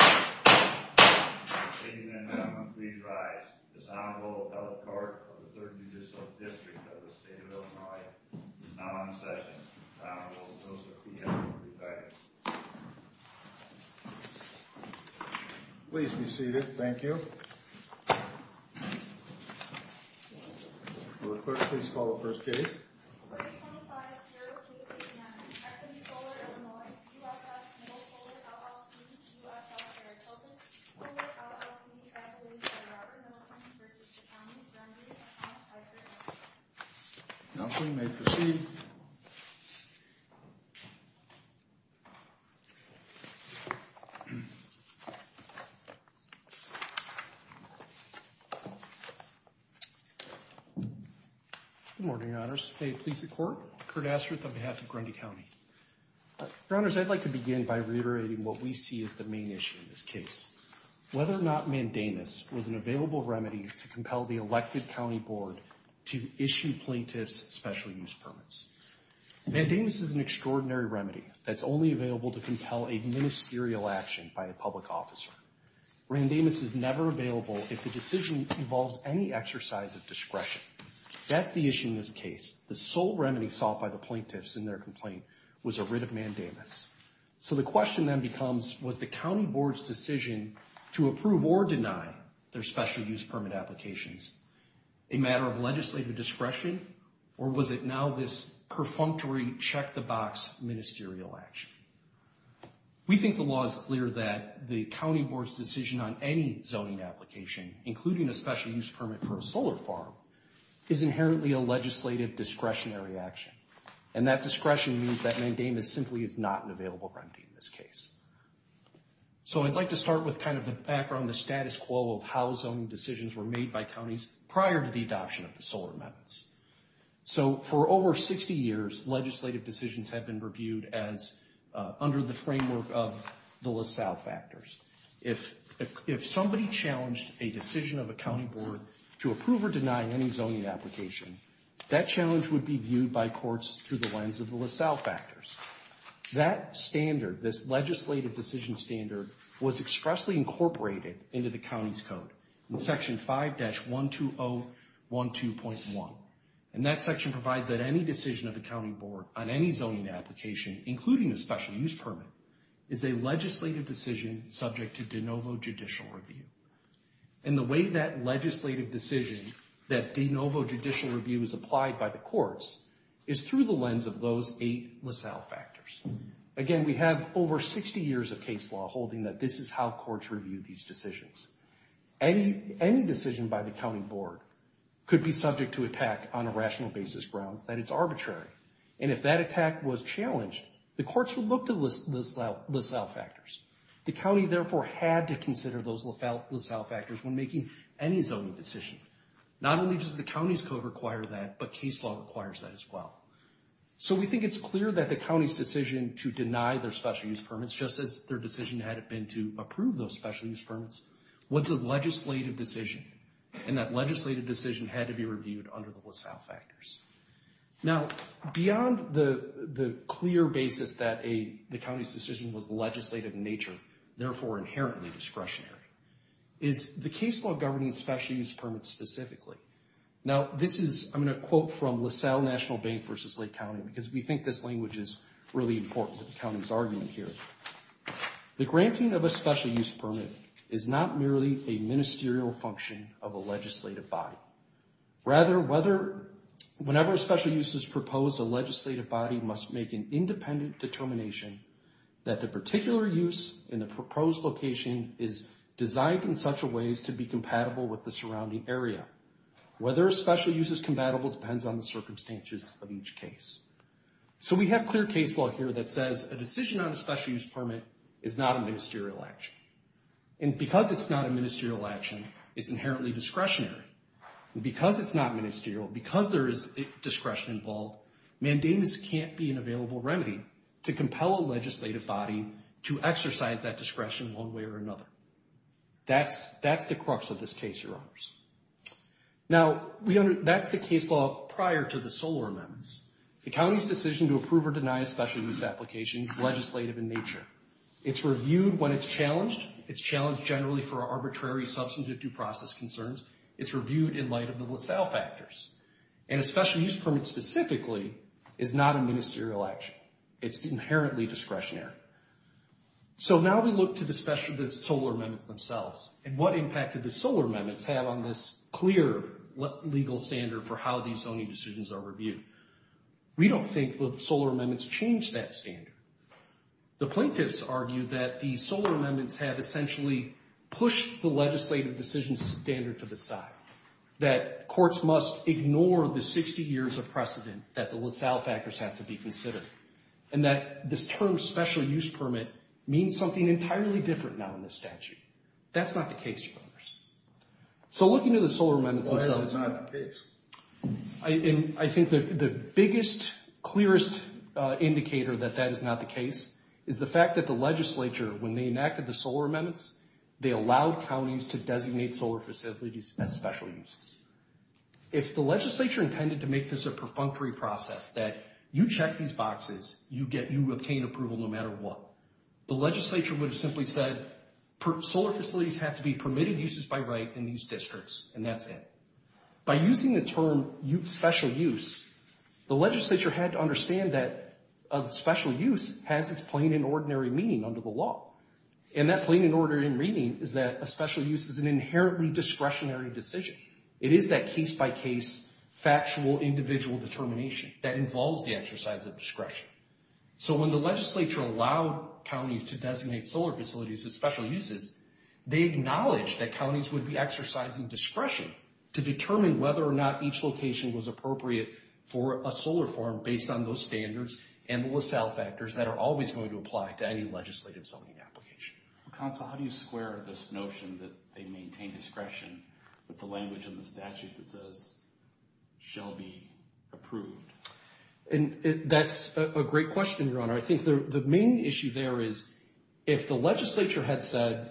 Ladies and gentlemen, please rise. This Honorable Appellate Clerk of the 30th District of the State of Illinois is now in session. This Honorable Appellate Clerk, please have your brief guidance. Please be seated. Thank you. Will the clerk please call the first case. Case 25-0KCM, F&E Solar Illinois, U.S.S. Middle Solar LLC, U.S.S. Aerotelco, Solar LLC by Robert Miller v. County of Grundy. You may proceed. Good morning, Your Honors. May it please the Court, I'm Curt Astruth on behalf of Grundy County. Your Honors, I'd like to begin by reiterating what we see as the main issue in this case. Whether or not mandamus was an available remedy to compel the elected county board to issue plaintiffs' special use permits. Mandamus is an extraordinary remedy that's only available to compel a ministerial action by a public officer. Mandamus is never available if the decision involves any exercise of discretion. That's the issue in this case. The sole remedy sought by the plaintiffs in their complaint was a writ of mandamus. So the question then becomes, was the county board's decision to approve or deny their special use permit applications a matter of legislative discretion, or was it now this perfunctory check-the-box ministerial action? We think the law is clear that the county board's decision on any zoning application, including a special use permit for a solar farm, is inherently a legislative discretionary action. And that discretion means that mandamus simply is not an available remedy in this case. So I'd like to start with kind of the background, the status quo of how zoning decisions were made by counties prior to the adoption of the solar amendments. So for over 60 years, legislative decisions have been reviewed under the framework of the LaSalle factors. If somebody challenged a decision of a county board to approve or deny any zoning application, that challenge would be viewed by courts through the lens of the LaSalle factors. That standard, this legislative decision standard, was expressly incorporated into the county's code in Section 5-12012.1. And that section provides that any decision of a county board on any zoning application, including a special use permit, is a legislative decision subject to de novo judicial review. And the way that legislative decision, that de novo judicial review, is applied by the courts is through the lens of those eight LaSalle factors. Again, we have over 60 years of case law holding that this is how courts review these decisions. Any decision by the county board could be subject to attack on a rational basis grounds that it's arbitrary. And if that attack was challenged, the courts would look to LaSalle factors. The county, therefore, had to consider those LaSalle factors when making any zoning decision. Not only does the county's code require that, but case law requires that as well. So we think it's clear that the county's decision to deny their special use permits, just as their decision had been to approve those special use permits, was a legislative decision. And that legislative decision had to be reviewed under the LaSalle factors. Now, beyond the clear basis that the county's decision was legislative in nature, therefore inherently discretionary, is the case law governing special use permits specifically. Now, this is, I'm going to quote from LaSalle National Bank v. Lake County, because we think this language is really important to the county's argument here. The granting of a special use permit is not merely a ministerial function of a legislative body. Rather, whenever a special use is proposed, a legislative body must make an independent determination that the particular use in the proposed location is designed in such a ways to be compatible with the surrounding area. Whether a special use is compatible depends on the circumstances of each case. So we have clear case law here that says a decision on a special use permit is not a ministerial action. And because it's not a ministerial action, it's inherently discretionary. And because it's not ministerial, because there is discretion involved, mandamus can't be an available remedy to compel a legislative body to exercise that discretion one way or another. That's the crux of this case, Your Honors. Now, that's the case law prior to the Solar Amendments. The county's decision to approve or deny a special use application is legislative in nature. It's reviewed when it's challenged. It's challenged generally for arbitrary substantive due process concerns. It's reviewed in light of the LaSalle factors. And a special use permit specifically is not a ministerial action. It's inherently discretionary. So now we look to the Solar Amendments themselves and what impact did the Solar Amendments have on this clear legal standard for how these zoning decisions are reviewed. We don't think the Solar Amendments changed that standard. The plaintiffs argue that the Solar Amendments have essentially pushed the legislative decision standard to the side, that courts must ignore the 60 years of precedent that the LaSalle factors have to be considered, and that this term special use permit means something entirely different now in this statute. That's not the case, Your Honors. So looking to the Solar Amendments themselves. Why is it not the case? I think the biggest, clearest indicator that that is not the case is the fact that the legislature, when they enacted the Solar Amendments, they allowed counties to designate solar facilities as special uses. If the legislature intended to make this a perfunctory process, that you check these boxes, you obtain approval no matter what, the legislature would have simply said, solar facilities have to be permitted uses by right in these districts, and that's it. By using the term special use, the legislature had to understand that special use has its plain and ordinary meaning under the law. And that plain and ordinary meaning is that a special use is an inherently discretionary decision. It is that case-by-case, factual, individual determination that involves the exercise of discretion. So when the legislature allowed counties to designate solar facilities as special uses, they acknowledged that counties would be exercising discretion to determine whether or not each location was appropriate for a solar farm based on those standards and the LaSalle factors that are always going to apply to any legislative zoning application. Counsel, how do you square this notion that they maintain discretion with the language in the statute that says, shall be approved? That's a great question, Your Honor. I think the main issue there is, if the legislature had said,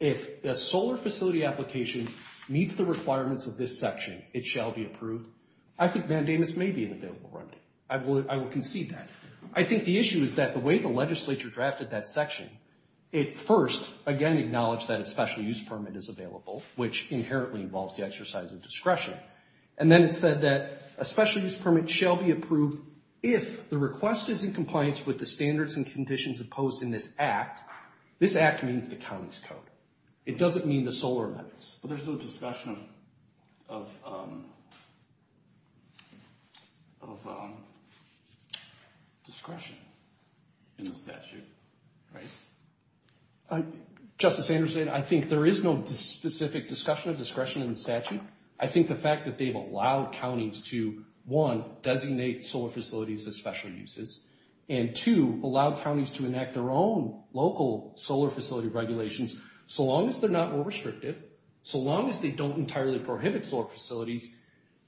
if a solar facility application meets the requirements of this section, it shall be approved, I think Vandamus may be an available remedy. I will concede that. I think the issue is that the way the legislature drafted that section, it first, again, acknowledged that a special use permit is available, which inherently involves the exercise of discretion. And then it said that a special use permit shall be approved if the request is in compliance with the standards and conditions imposed in this act. This act means the county's code. It doesn't mean the solar limits. But there's no discussion of discretion in the statute, right? Justice Anderson, I think there is no specific discussion of discretion in the statute. I think the fact that they've allowed counties to, one, designate solar facilities as special uses, and two, allow counties to enact their own local solar facility regulations, so long as they're not more restrictive, so long as they don't entirely prohibit solar facilities,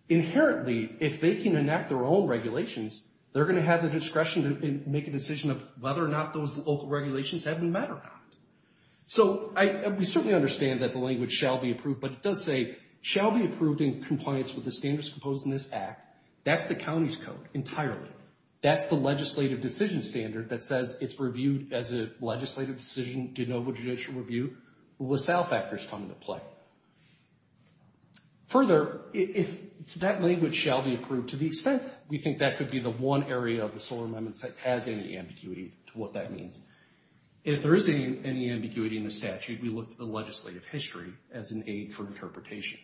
inherently, if they can enact their own regulations, they're going to have the discretion to make a decision of whether or not those local regulations have been met or not. So we certainly understand that the language shall be approved, but it does say, shall be approved in compliance with the standards imposed in this act. That's the county's code entirely. That's the legislative decision standard that says it's reviewed as a legislative decision, de novo judicial review, with self-factors come into play. Further, that language shall be approved to the extent we think that could be the one area of the solar amendments that has any ambiguity to what that means. If there is any ambiguity in the statute, we look to the legislative history as an aid for interpretation.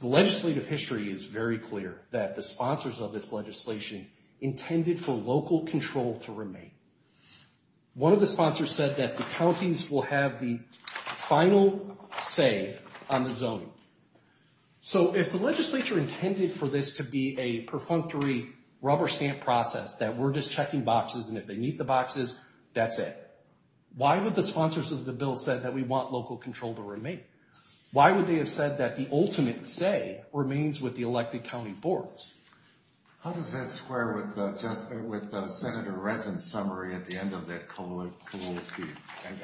The legislative history is very clear that the sponsors of this legislation intended for local control to remain. One of the sponsors said that the counties will have the final say on the zoning. So if the legislature intended for this to be a perfunctory rubber stamp process, that we're just checking boxes, and if they meet the boxes, that's it, why would the sponsors of the bill say that we want local control to remain? Why would they have said that the ultimate say remains with the elected county boards? How does that square with Senator Resn's summary at the end of that colloquy?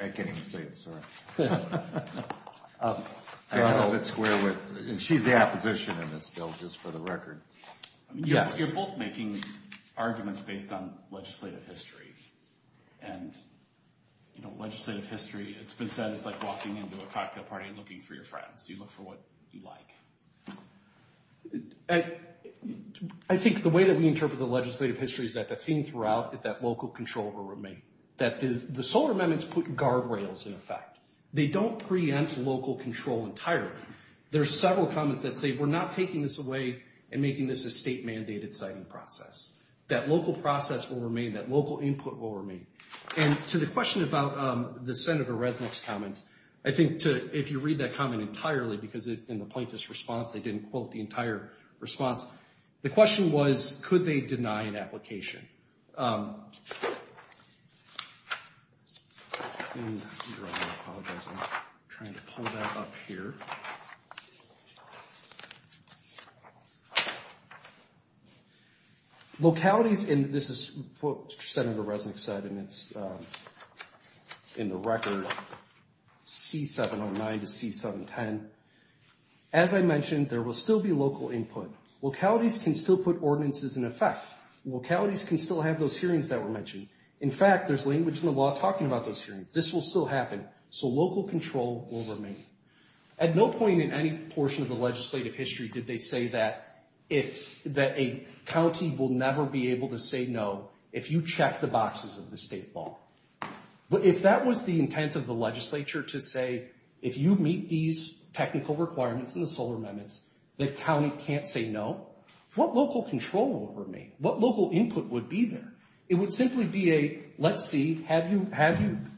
I can't even say it, sorry. How does that square with, and she's the opposition in this bill, just for the record. You're both making arguments based on legislative history. And legislative history, it's been said it's like walking into a cocktail party and looking for your friends. You look for what you like. I think the way that we interpret the legislative history is that the theme throughout is that local control will remain. That the solar amendments put guardrails in effect. They don't preempt local control entirely. There are several comments that say we're not taking this away and making this a state-mandated siting process. That local process will remain, that local input will remain. And to the question about the Senator Resnick's comments, I think if you read that comment entirely, because in the plaintiff's response they didn't quote the entire response. The question was, could they deny an application? I apologize, I'm trying to pull that up here. Localities, and this is what Senator Resnick said, and it's in the record, C709 to C710. As I mentioned, there will still be local input. Localities can still put ordinances in effect. Localities can still have those hearings that were mentioned. In fact, there's language in the law talking about those hearings. This will still happen, so local control will remain. At no point in any portion of the legislative history did they say that a county will never be able to say no if you check the boxes of the state law. But if that was the intent of the legislature to say, if you meet these technical requirements in the Solar Amendments, the county can't say no, what local control will remain? What local input would be there? It would simply be a, let's see, have you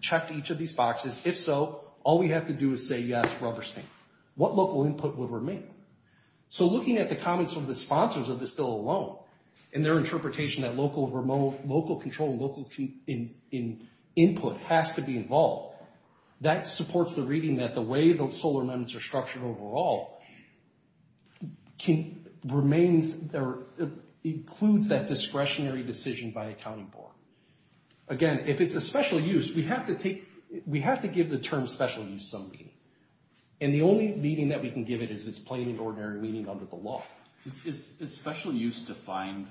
checked each of these boxes? If so, all we have to do is say yes, rubber stamp. What local input would remain? So looking at the comments from the sponsors of this bill alone and their interpretation that local control and local input has to be involved, that supports the reading that the way those Solar Amendments are structured overall includes that discretionary decision by a county board. Again, if it's a special use, we have to give the term special use some meaning. And the only meaning that we can give it is its plain and ordinary meaning under the law. Is special use defined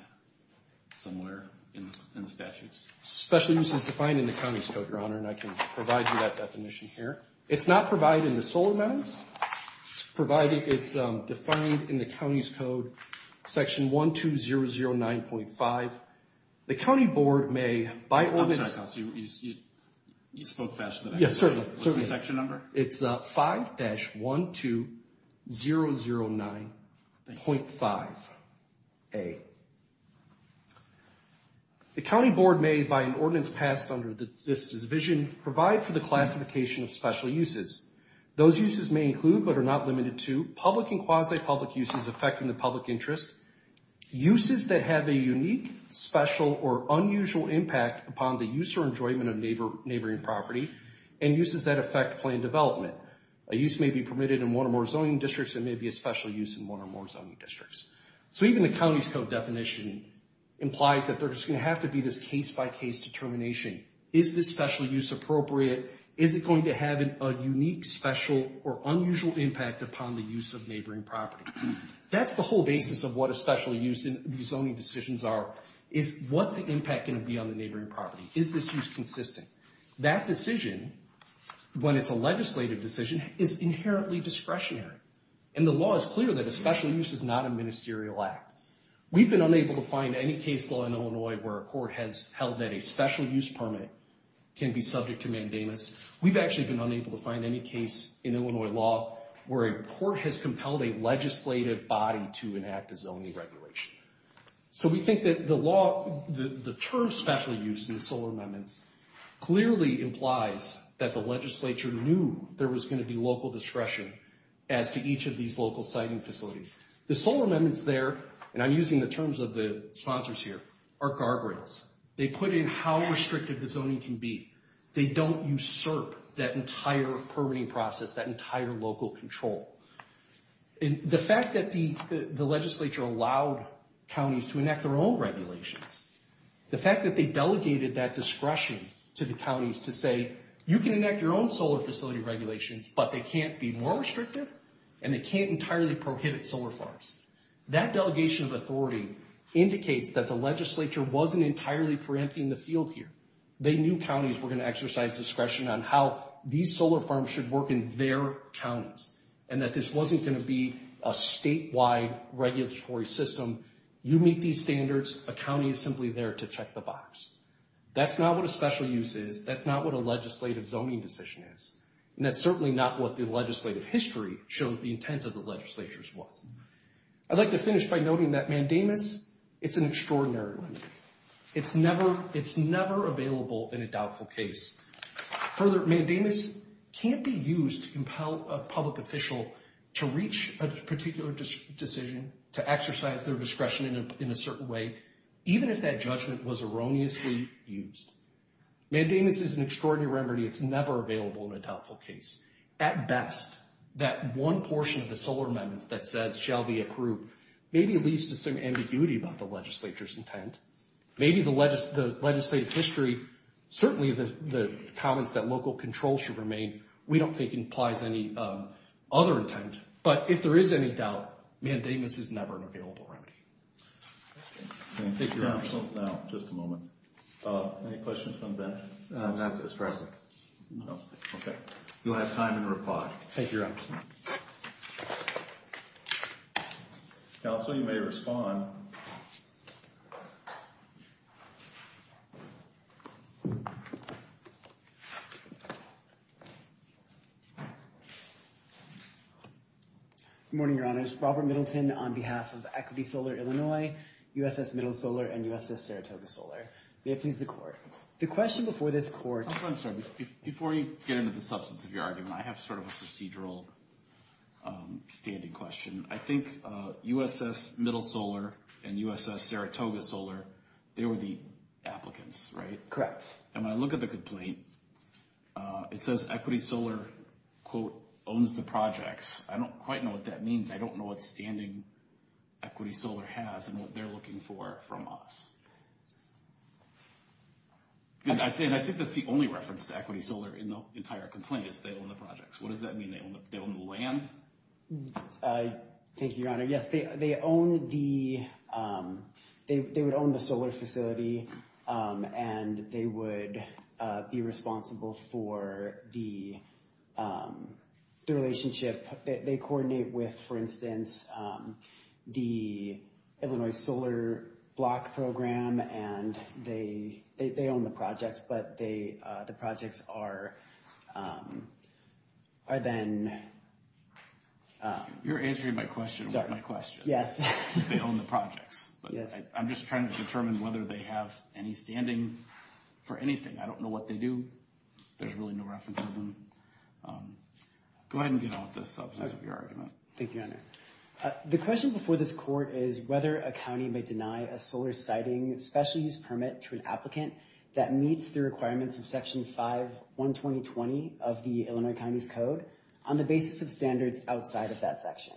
somewhere in the statutes? Special use is defined in the County's Code, Your Honor, and I can provide you that definition here. It's not provided in the Solar Amendments. It's defined in the County's Code, Section 12009.5. The county board may, by ordinance. I'm sorry, I thought you spoke faster than I did. Yes, certainly. What's the section number? It's 5-12009.5a. The county board may, by an ordinance passed under this division, provide for the classification of special uses. Those uses may include, but are not limited to, public and quasi-public uses affecting the public interest, uses that have a unique, special, or unusual impact upon the use or enjoyment of neighboring property, and uses that affect plan development. A use may be permitted in one or more zoning districts. It may be a special use in one or more zoning districts. So even the County's Code definition implies that there's going to have to be this case-by-case determination. Is this special use appropriate? Is it going to have a unique, special, or unusual impact upon the use of neighboring property? That's the whole basis of what a special use and zoning decisions are, is what's the impact going to be on the neighboring property? Is this use consistent? That decision, when it's a legislative decision, is inherently discretionary. And the law is clear that a special use is not a ministerial act. We've been unable to find any case law in Illinois where a court has held that a special use permit can be subject to mandamus. We've actually been unable to find any case in Illinois law where a court has compelled a legislative body to enact a zoning regulation. So we think that the term special use in the Solar Amendments clearly implies that the legislature knew there was going to be local discretion as to each of these local siting facilities. The Solar Amendments there, and I'm using the terms of the sponsors here, are guardrails. They put in how restrictive the zoning can be. They don't usurp that entire permitting process, that entire local control. The fact that the legislature allowed counties to enact their own regulations, the fact that they delegated that discretion to the counties to say, you can enact your own solar facility regulations, but they can't be more restrictive, and they can't entirely prohibit solar farms. That delegation of authority indicates that the legislature wasn't entirely preempting the field here. They knew counties were going to exercise discretion on how these solar farms should work in their counties, and that this wasn't going to be a statewide regulatory system. You meet these standards, a county is simply there to check the box. That's not what a special use is. That's not what a legislative zoning decision is. And that's certainly not what the legislative history shows the intent of the legislature was. I'd like to finish by noting that mandamus, it's an extraordinary limit. It's never available in a doubtful case. Further, mandamus can't be used to compel a public official to reach a particular decision, to exercise their discretion in a certain way, even if that judgment was erroneously used. Mandamus is an extraordinary remedy. It's never available in a doubtful case. At best, that one portion of the solar amendments that says, maybe it leads to some ambiguity about the legislature's intent. Maybe the legislative history, certainly the comments that local control should remain, we don't think implies any other intent. But if there is any doubt, mandamus is never an available remedy. Thank you, Your Honor. Just a moment. Any questions from the bench? Not at this present. No. Okay. You'll have time to reply. Thank you, Your Honor. Counsel, you may respond. Good morning, Your Honors. Robert Middleton on behalf of Equity Solar Illinois, USS Middle Solar, and USS Saratoga Solar. May it please the Court. The question before this Court— Counsel, I'm sorry. Before you get into the substance of your argument, I have sort of a procedural standing question. I think USS Middle Solar and USS Saratoga Solar, they were the applicants, right? Correct. And when I look at the complaint, it says Equity Solar, quote, owns the projects. I don't quite know what that means. I don't know what standing Equity Solar has and what they're looking for from us. And I think that's the only reference to Equity Solar in the entire complaint is they own the projects. What does that mean? They own the land? Thank you, Your Honor. Yes, they own the—they would own the solar facility, and they would be responsible for the relationship. They coordinate with, for instance, the Illinois Solar Block Program, and they own the projects, but the projects are then— You're answering my question about my question. Yes. They own the projects. Yes. I'm just trying to determine whether they have any standing for anything. I don't know what they do. There's really no reference to them. Go ahead and get on with the substance of your argument. Thank you, Your Honor. The question before this court is whether a county may deny a solar siting special use permit to an applicant that meets the requirements of Section 512020 of the Illinois County's Code on the basis of standards outside of that section.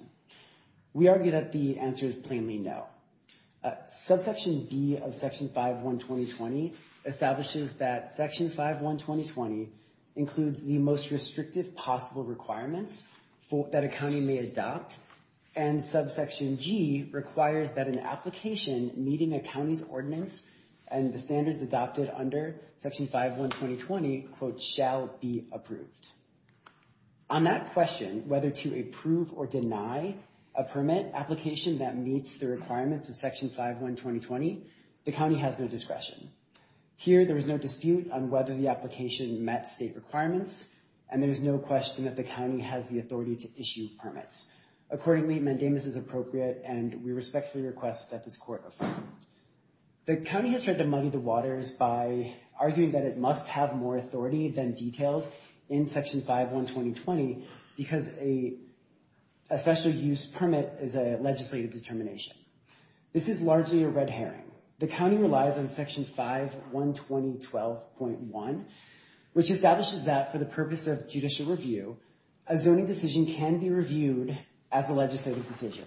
We argue that the answer is plainly no. Subsection B of Section 512020 establishes that Section 512020 includes the most restrictive possible requirements that a county may adopt, and Subsection G requires that an application meeting a county's ordinance and the standards adopted under Section 512020, quote, shall be approved. On that question, whether to approve or deny a permit application that meets the requirements of Section 512020, the county has no discretion. Here, there is no dispute on whether the application met state requirements, and there is no question that the county has the authority to issue permits. Accordingly, mandamus is appropriate, and we respectfully request that this court affirm. The county has tried to muddy the waters by arguing that it must have more authority than detailed in Section 512020 because a special use permit is a legislative determination. This is largely a red herring. The county relies on Section 512012.1, which establishes that for the purpose of judicial review, a zoning decision can be reviewed as a legislative decision.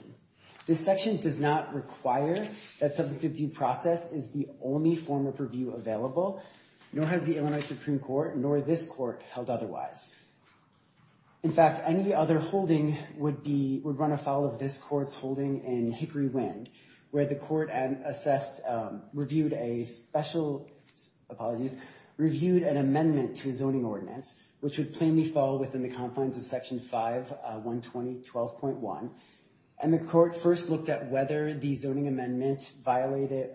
This section does not require that substantive due process is the only form of review available, nor has the Illinois Supreme Court nor this court held otherwise. In fact, any other holding would run afoul of this court's holding in Hickory Wind, where the court assessed, reviewed a special, apologies, reviewed an amendment to a zoning ordinance, which would plainly fall within the confines of Section 512012.1, and the court first looked at whether the zoning amendment violated,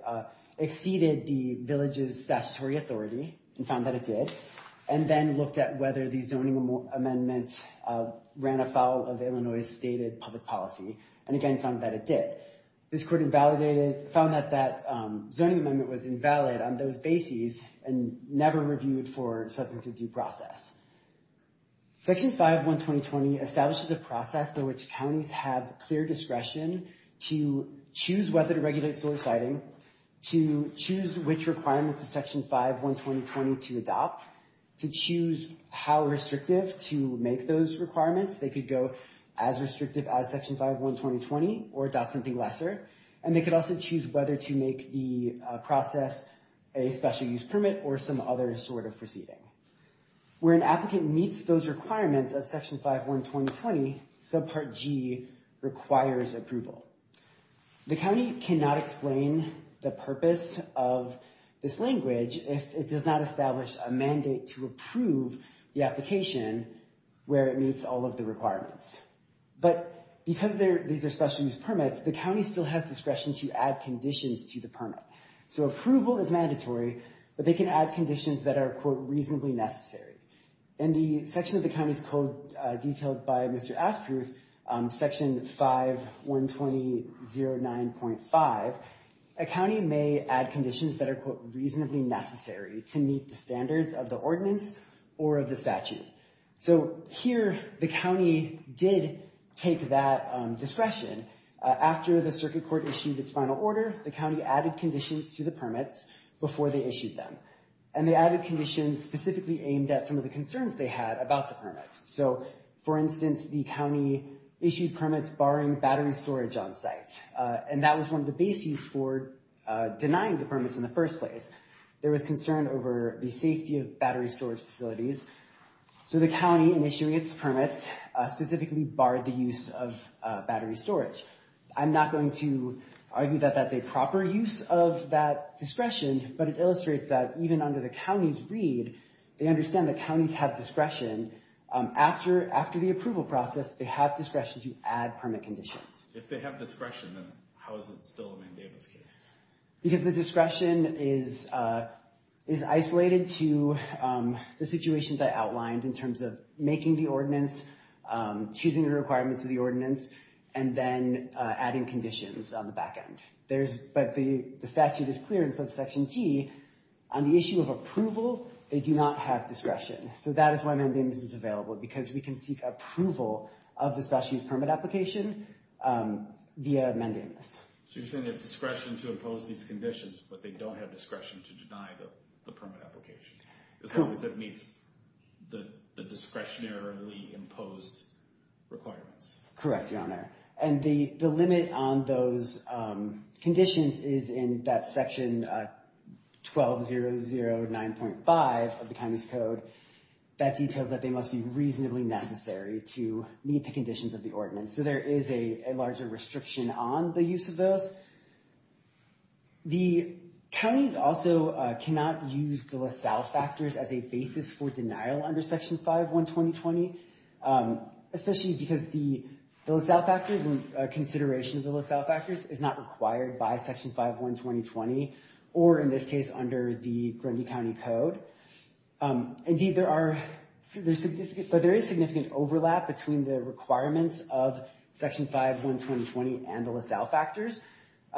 exceeded the village's statutory authority, and found that it did, and then looked at whether the zoning amendment ran afoul of Illinois's stated public policy, and again found that it did. This court found that that zoning amendment was invalid on those bases and never reviewed for substantive due process. Section 512020 establishes a process through which counties have clear discretion to choose whether to regulate solar siding, to choose which requirements of Section 512020 to adopt, to choose how restrictive to make those requirements. They could go as restrictive as Section 512020 or adopt something lesser, and they could also choose whether to make the process a special use permit or some other sort of proceeding. Where an applicant meets those requirements of Section 512020, subpart G requires approval. The county cannot explain the purpose of this language if it does not establish a mandate to approve the application where it meets all of the requirements. But because these are special use permits, the county still has discretion to add conditions to the permit. So approval is mandatory, but they can add conditions that are, quote, reasonably necessary. In the section of the county's code detailed by Mr. Asproof, Section 512009.5, a county may add conditions that are, quote, reasonably necessary to meet the standards of the ordinance or of the statute. So here the county did take that discretion. After the circuit court issued its final order, the county added conditions to the permits before they issued them. And they added conditions specifically aimed at some of the concerns they had about the permits. So, for instance, the county issued permits barring battery storage on site. And that was one of the bases for denying the permits in the first place. There was concern over the safety of battery storage facilities. So the county, in issuing its permits, specifically barred the use of battery storage. I'm not going to argue that that's a proper use of that discretion, but it illustrates that even under the county's read, they understand that counties have discretion. After the approval process, they have discretion to add permit conditions. If they have discretion, then how is it still a mandate in this case? Because the discretion is isolated to the situations I outlined in terms of making the ordinance, choosing the requirements of the ordinance, and then adding conditions on the back end. But the statute is clear in subsection G, on the issue of approval, they do not have discretion. So that is why mandamus is available, because we can seek approval of the special use permit application via mandamus. So you're saying they have discretion to impose these conditions, but they don't have discretion to deny the permit application. As long as it meets the discretionarily imposed requirements. Correct, Your Honor. And the limit on those conditions is in that section 12009.5 of the county's code. That details that they must be reasonably necessary to meet the conditions of the ordinance. So there is a larger restriction on the use of those. The counties also cannot use the LaSalle factors as a basis for denial under Section 5.1.2020, especially because the LaSalle factors and consideration of the LaSalle factors is not required by Section 5.1.2020, or in this case under the Grundy County Code. Indeed, there is significant overlap between the requirements of Section 5.1.2020 and the LaSalle factors.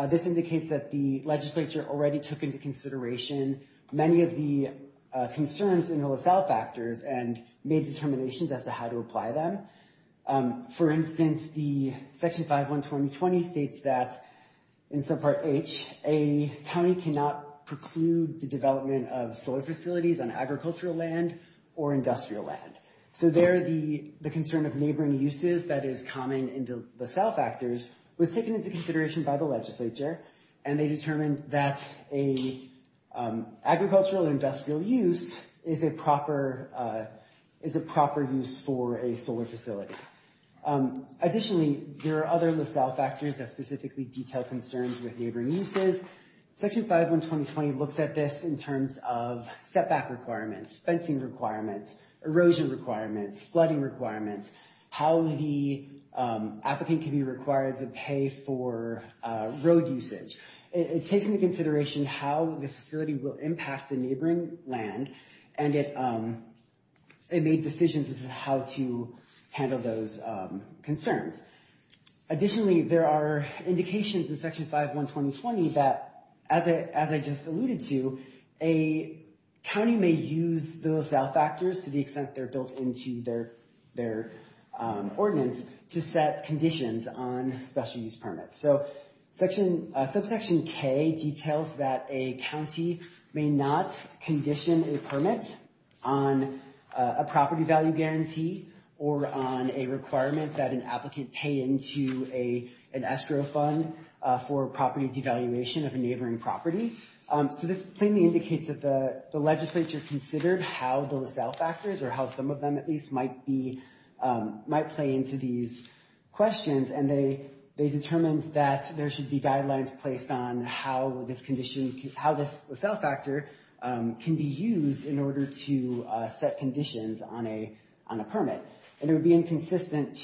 This indicates that the legislature already took into consideration many of the concerns in the LaSalle factors and made determinations as to how to apply them. For instance, the Section 5.1.2020 states that, in subpart H, a county cannot preclude the development of solar facilities on agricultural land or industrial land. So there the concern of neighboring uses that is common in the LaSalle factors was taken into consideration by the legislature, and they determined that an agricultural or industrial use is a proper use for a solar facility. Additionally, there are other LaSalle factors that specifically detail concerns with neighboring uses. Section 5.1.2020 looks at this in terms of setback requirements, fencing requirements, erosion requirements, flooding requirements, how the applicant can be required to pay for road usage. It takes into consideration how the facility will impact the neighboring land and it made decisions as to how to handle those concerns. Additionally, there are indications in Section 5.1.2020 that, as I just alluded to, a county may use the LaSalle factors to the extent they're built into their ordinance to set conditions on special use permits. So Subsection K details that a county may not condition a permit on a property value guarantee or on a requirement that an applicant pay into an escrow fund for property devaluation of a neighboring property. So this plainly indicates that the legislature considered how the LaSalle factors, or how some of them at least, might play into these questions, and they determined that there should be guidelines placed on how this LaSalle factor can be used in order to set conditions on a permit. And it would be inconsistent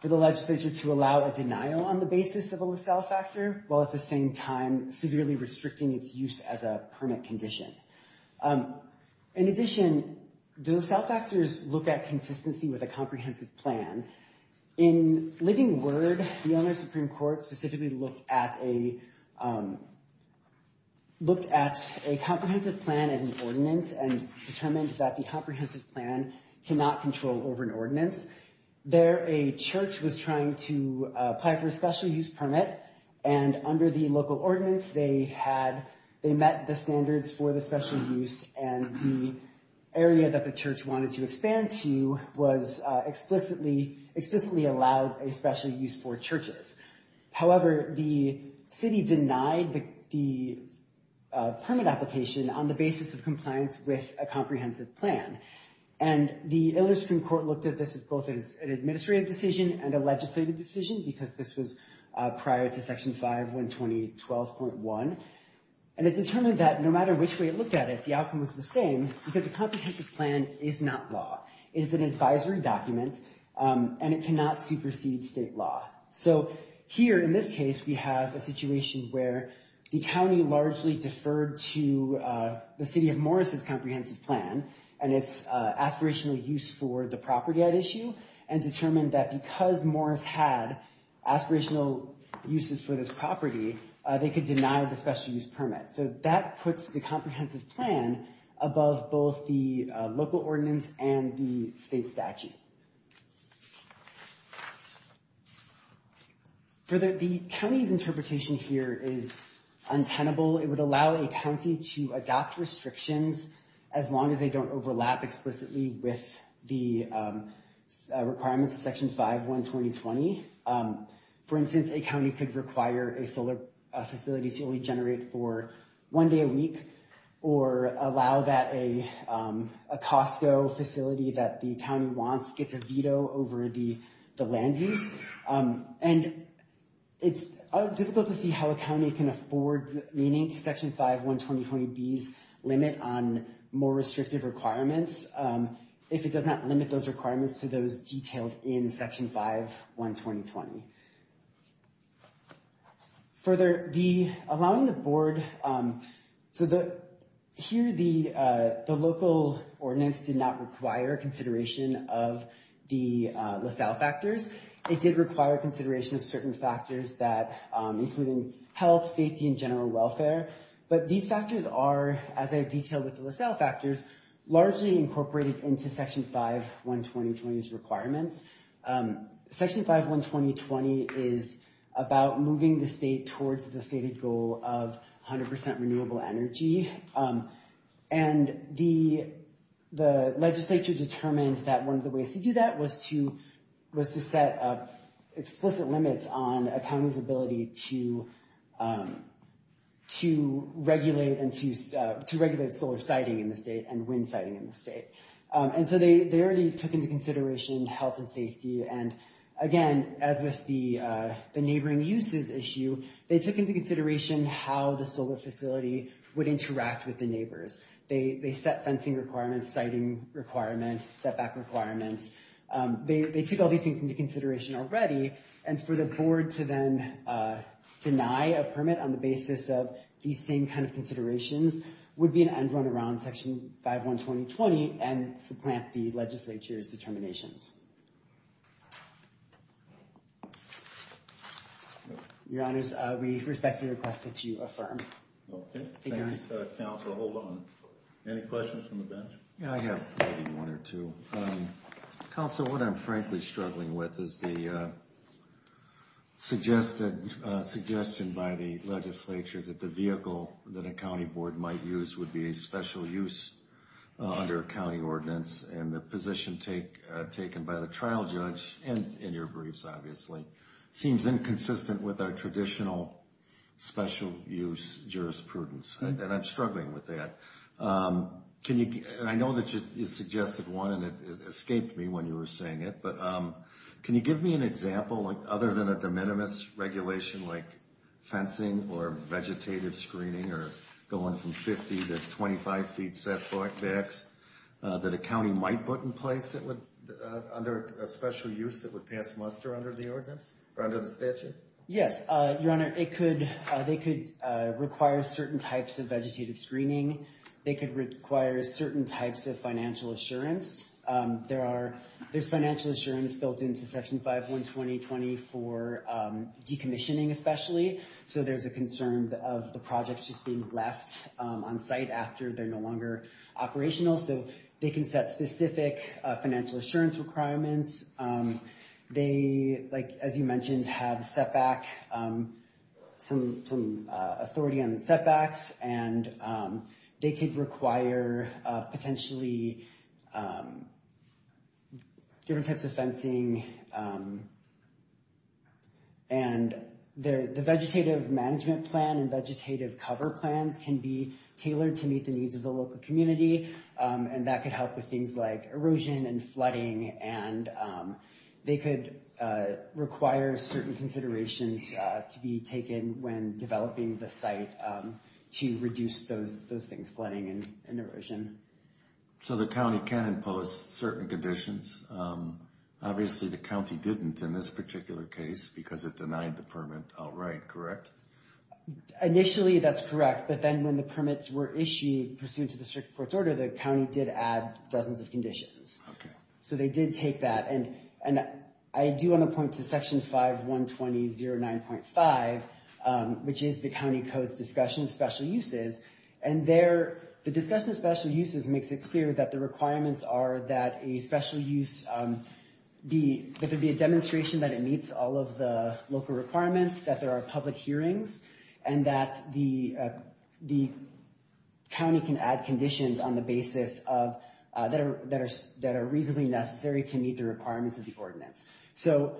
for the legislature to allow a denial on the basis of a LaSalle factor, while at the same time severely restricting its use as a permit condition. In addition, the LaSalle factors look at consistency with a comprehensive plan. In Living Word, the Illinois Supreme Court specifically looked at a comprehensive plan in the ordinance and determined that the comprehensive plan cannot control over an ordinance. There, a church was trying to apply for a special use permit, and under the local ordinance, they met the standards for the special use, and the area that the church wanted to expand to was explicitly allowed a special use for churches. However, the city denied the permit application on the basis of compliance with a comprehensive plan. And the Illinois Supreme Court looked at this as both an administrative decision and a legislative decision, because this was prior to Section 5120.12.1, and it determined that no matter which way it looked at it, the outcome was the same, because a comprehensive plan is not law. It is an advisory document, and it cannot supersede state law. So here, in this case, we have a situation where the county largely deferred to the city of Morris's comprehensive plan, and its aspirational use for the property at issue, and determined that because Morris had aspirational uses for this property, they could deny the special use permit. So that puts the comprehensive plan above both the local ordinance and the state statute. Further, the county's interpretation here is untenable. It would allow a county to adopt restrictions as long as they don't overlap explicitly with the requirements of Section 5120.20. For instance, a county could require a solar facility to only generate for one day a week, or allow that a Costco facility that the county wants gets a veto over the land use. And it's difficult to see how a county can afford meaning to Section 5120.20b's limit on more restrictive requirements if it does not limit those requirements to those detailed in Section 5120.20. Further, the, allowing the board, so the, here the local ordinance did not require consideration of the LaSalle factors. It did require consideration of certain factors that, including health, safety, and general welfare. But these factors are, as I have detailed with the LaSalle factors, largely incorporated into Section 5120.20's requirements. Section 5120.20 is about moving the state towards the stated goal of 100% renewable energy. And the legislature determined that one of the ways to do that was to set up explicit limits on a county's ability to regulate solar siting in the state and wind siting in the state. And so they already took into consideration health and safety. And again, as with the neighboring uses issue, they took into consideration how the solar facility would interact with the neighbors. They set fencing requirements, siting requirements, setback requirements. They took all these things into consideration already. And for the board to then deny a permit on the basis of these same kind of considerations would be an end run around Section 5120.20 and supplant the legislature's determinations. Your Honors, we respectfully request that you affirm. Okay. Thank you, Your Honor. Thank you, Counsel. Hold on. Any questions from the bench? Yeah, I have maybe one or two. Counsel, what I'm frankly struggling with is the suggestion by the legislature that the vehicle that a county board might use would be a special use under a county ordinance and the position taken by the trial judge, and in your briefs obviously, seems inconsistent with our traditional special use jurisprudence. And I'm struggling with that. And I know that you suggested one, and it escaped me when you were saying it. But can you give me an example, other than a de minimis regulation like fencing or vegetative screening or going from 50 to 25 feet set back that a county might put in place under a special use that would pass muster under the statute? Yes. Your Honor, they could require certain types of vegetative screening. They could require certain types of financial assurance. There's financial assurance built into Section 512020 for decommissioning especially. So there's a concern of the projects just being left on site after they're no longer operational. So they can set specific financial assurance requirements. They, as you mentioned, have setback, some authority on setbacks, and they could require potentially different types of fencing. And the vegetative management plan and vegetative cover plans can be tailored to meet the needs of the local community. And that could help with things like erosion and flooding. And they could require certain considerations to be taken when developing the site to reduce those things, flooding and erosion. So the county can impose certain conditions. Obviously, the county didn't in this particular case because it denied the permit outright, correct? Initially, that's correct. But then when the permits were issued pursuant to the district court's order, the county did add dozens of conditions. Okay. So they did take that. And I do want to point to Section 512009.5, which is the county code's discussion of special uses. And there, the discussion of special uses makes it clear that the requirements are that a special use be, that there be a demonstration that it meets all of the local requirements, that there are public hearings, and that the county can add conditions on the basis of, that are reasonably necessary to meet the requirements of the ordinance. So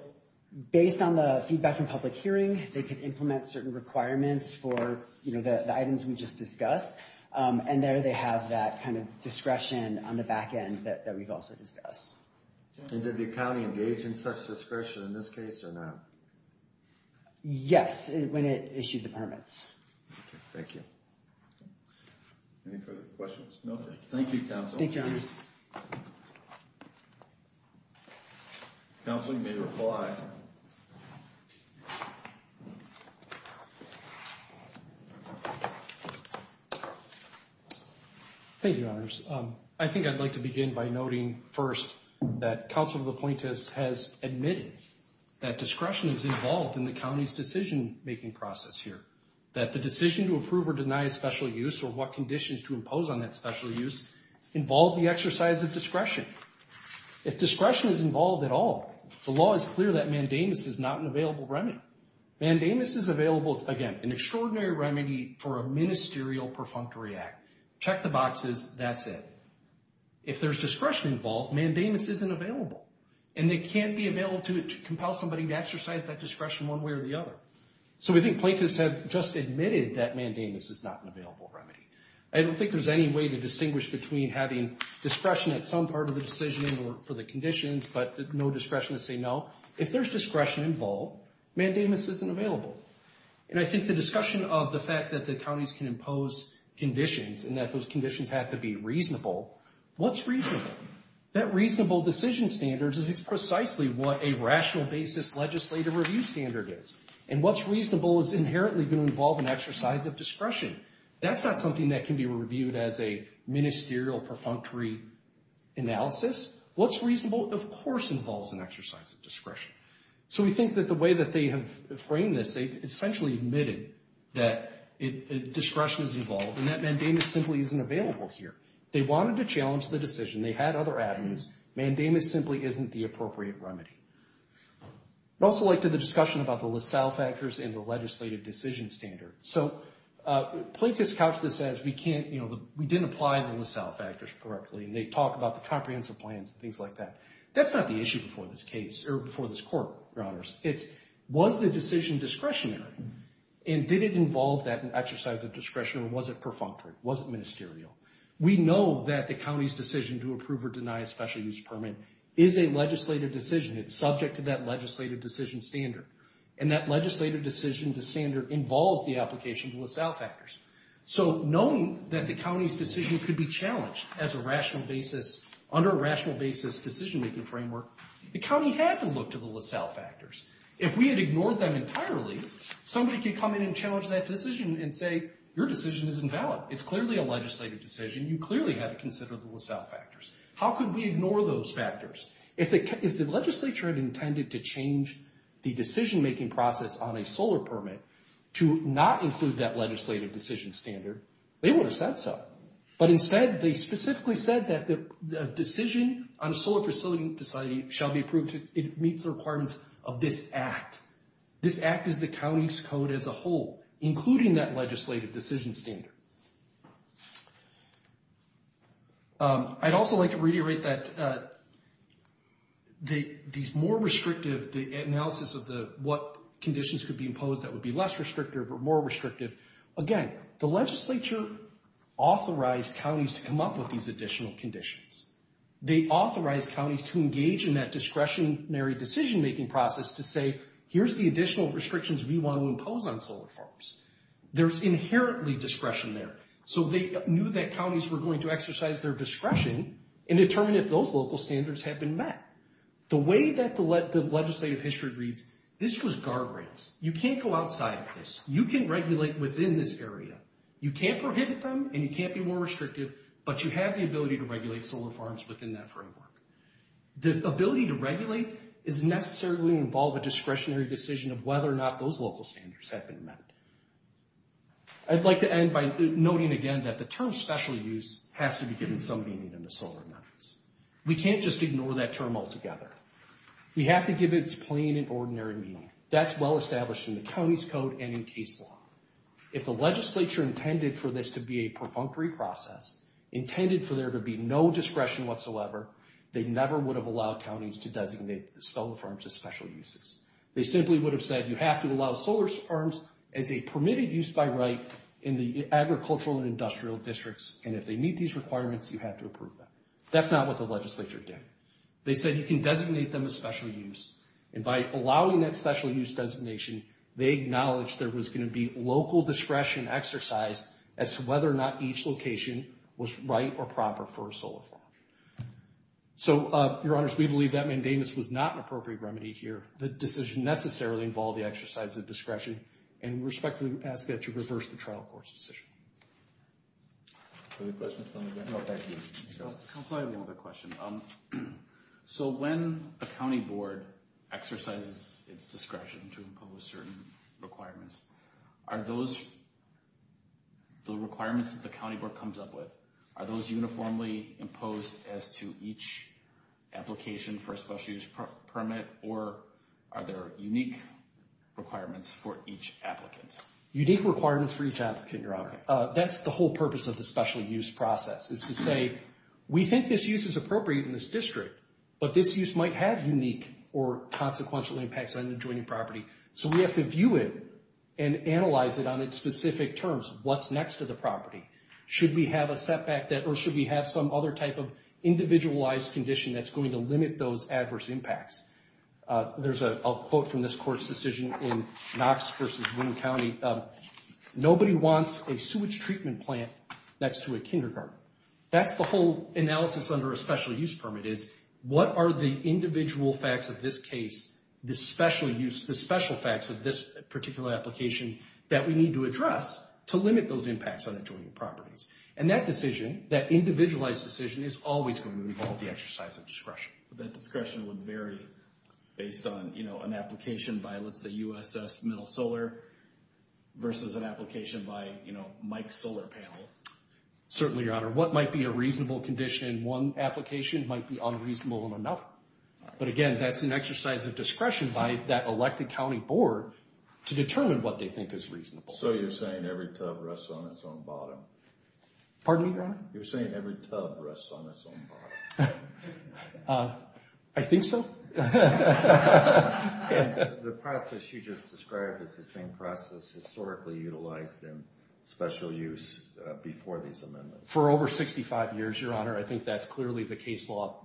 based on the feedback from public hearing, they could implement certain requirements for the items we just discussed. And there, they have that kind of discretion on the back end that we've also discussed. And did the county engage in such discretion in this case or not? Yes, when it issued the permits. Okay, thank you. Any further questions? No, thank you. Thank you, Council. Thank you, honorees. Counsel, you may reply. Thank you, honorees. I think I'd like to begin by noting first that Council of Appointees has admitted that discretion is involved in the county's decision-making process here, that the decision to approve or deny a special use or what conditions to impose on that special use involve the exercise of discretion. If discretion is involved at all, the law is clear that mandamus is not an available remedy. Mandamus is available, again, an extraordinary remedy for a ministerial perfunctory act. Check the boxes, that's it. If there's discretion involved, mandamus isn't available. And it can't be available to compel somebody to exercise that discretion one way or the other. So we think plaintiffs have just admitted that mandamus is not an available remedy. I don't think there's any way to distinguish between having discretion at some part of the decision for the conditions but no discretion to say no. If there's discretion involved, mandamus isn't available. And I think the discussion of the fact that the counties can impose conditions and that those conditions have to be reasonable, what's reasonable? That reasonable decision standard is precisely what a rational basis legislative review standard is. And what's reasonable is inherently going to involve an exercise of discretion. That's not something that can be reviewed as a ministerial perfunctory analysis. What's reasonable, of course, involves an exercise of discretion. So we think that the way that they have framed this, they've essentially admitted that discretion is involved and that mandamus simply isn't available here. They wanted to challenge the decision. They had other avenues. Mandamus simply isn't the appropriate remedy. I'd also like to do the discussion about the LaSalle factors and the legislative decision standard. So plaintiffs couch this as we can't, you know, we didn't apply the LaSalle factors correctly. And they talk about the comprehensive plans and things like that. That's not the issue before this case or before this court, Your Honors. It's was the decision discretionary and did it involve that exercise of discretion or was it perfunctory? Was it ministerial? We know that the county's decision to approve or deny a special use permit is a legislative decision. It's subject to that legislative decision standard. And that legislative decision standard involves the application of LaSalle factors. So knowing that the county's decision could be challenged as a rational basis, under a rational basis decision-making framework, the county had to look to the LaSalle factors. If we had ignored them entirely, somebody could come in and challenge that decision and say, your decision is invalid. It's clearly a legislative decision. You clearly had to consider the LaSalle factors. How could we ignore those factors? If the legislature had intended to change the decision-making process on a solar permit to not include that legislative decision standard, they would have said so. But instead, they specifically said that the decision on a solar facility shall be approved if it meets the requirements of this act. This act is the county's code as a whole, including that legislative decision standard. I'd also like to reiterate that these more restrictive, the analysis of what conditions could be imposed that would be less restrictive or more restrictive. Again, the legislature authorized counties to come up with these additional conditions. They authorized counties to engage in that discretionary decision-making process to say, here's the additional restrictions we want to impose on solar farms. There's inherently discretion there. So they knew that counties were going to exercise their discretion and determine if those local standards had been met. The way that the legislative history reads, this was guardrails. You can't go outside of this. You can't regulate within this area. You can't prohibit them and you can't be more restrictive, but you have the ability to regulate solar farms within that framework. The ability to regulate doesn't necessarily involve a discretionary decision of whether or not those local standards have been met. I'd like to end by noting again that the term special use has to be given some meaning in the solar permits. We can't just ignore that term altogether. We have to give it its plain and ordinary meaning. That's well established in the county's code and in case law. If the legislature intended for this to be a perfunctory process, intended for there to be no discretion whatsoever, they never would have allowed counties to designate solar farms as special uses. They simply would have said you have to allow solar farms as a permitted use by right in the agricultural and industrial districts, and if they meet these requirements, you have to approve them. That's not what the legislature did. They said you can designate them as special use. And by allowing that special use designation, they acknowledged there was going to be local discretion exercise as to whether or not each location was right or proper for a solar farm. So, your honors, we believe that mandamus was not an appropriate remedy here. The decision necessarily involved the exercise of discretion, and we respectfully ask that you reverse the trial court's decision. Any questions? No, thank you. I have one other question. So, when a county board exercises its discretion to impose certain requirements, are those the requirements that the county board comes up with, are those uniformly imposed as to each application for a special use permit, or are there unique requirements for each applicant? Unique requirements for each applicant, your honor. That's the whole purpose of the special use process, is to say, we think this use is appropriate in this district, but this use might have unique or consequential impacts on the adjoining property, so we have to view it and analyze it on its specific terms. What's next to the property? Should we have a setback, or should we have some other type of individualized condition that's going to limit those adverse impacts? There's a quote from this court's decision in Knox v. Winn County. Nobody wants a sewage treatment plant next to a kindergarten. That's the whole analysis under a special use permit, is what are the individual facts of this case, the special facts of this particular application that we need to address to limit those impacts on adjoining properties? And that decision, that individualized decision, is always going to involve the exercise of discretion. That discretion would vary based on an application by, let's say, USS Middle Solar versus an application by Mike's solar panel. Certainly, your honor. What might be a reasonable condition in one application might be unreasonable in another. But again, that's an exercise of discretion by that elected county board to determine what they think is reasonable. So you're saying every tub rests on its own bottom. Pardon me, your honor? You're saying every tub rests on its own bottom. I think so. The process you just described is the same process historically utilized in special use before these amendments. For over 65 years, your honor. I think that's clearly the case law.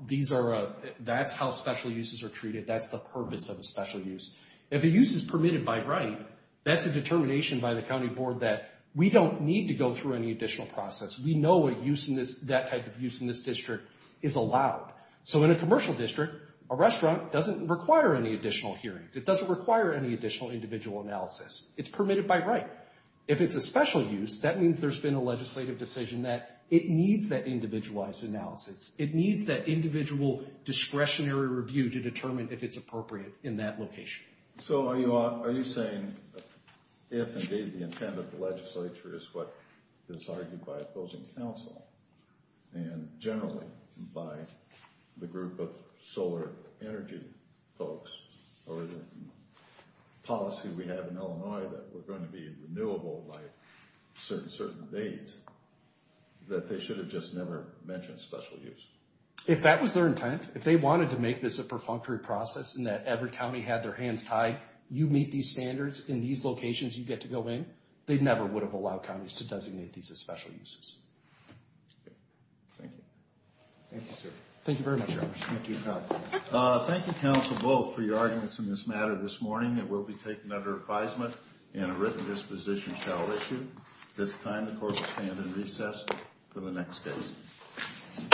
That's how special uses are treated. That's the purpose of a special use. If a use is permitted by right, that's a determination by the county board that we don't need to go through any additional process. We know that type of use in this district is allowed. So in a commercial district, a restaurant doesn't require any additional hearings. It doesn't require any additional individual analysis. It's permitted by right. If it's a special use, that means there's been a legislative decision that it needs that individualized analysis. It needs that individual discretionary review to determine if it's appropriate in that location. So are you saying if indeed the intent of the legislature is what is argued by opposing counsel and generally by the group of solar energy folks or the policy we have in Illinois that we're going to be renewable by a certain date, that they should have just never mentioned special use? If that was their intent, if they wanted to make this a perfunctory process and that every county had their hands tied, you meet these standards, in these locations you get to go in, they never would have allowed counties to designate these as special uses. Thank you. Thank you, sir. Thank you very much. Thank you, counsel. Thank you, counsel, both, for your arguments in this matter this morning. It will be taken under advisement and a written disposition shall issue. At this time, the court will stand in recess for the next case.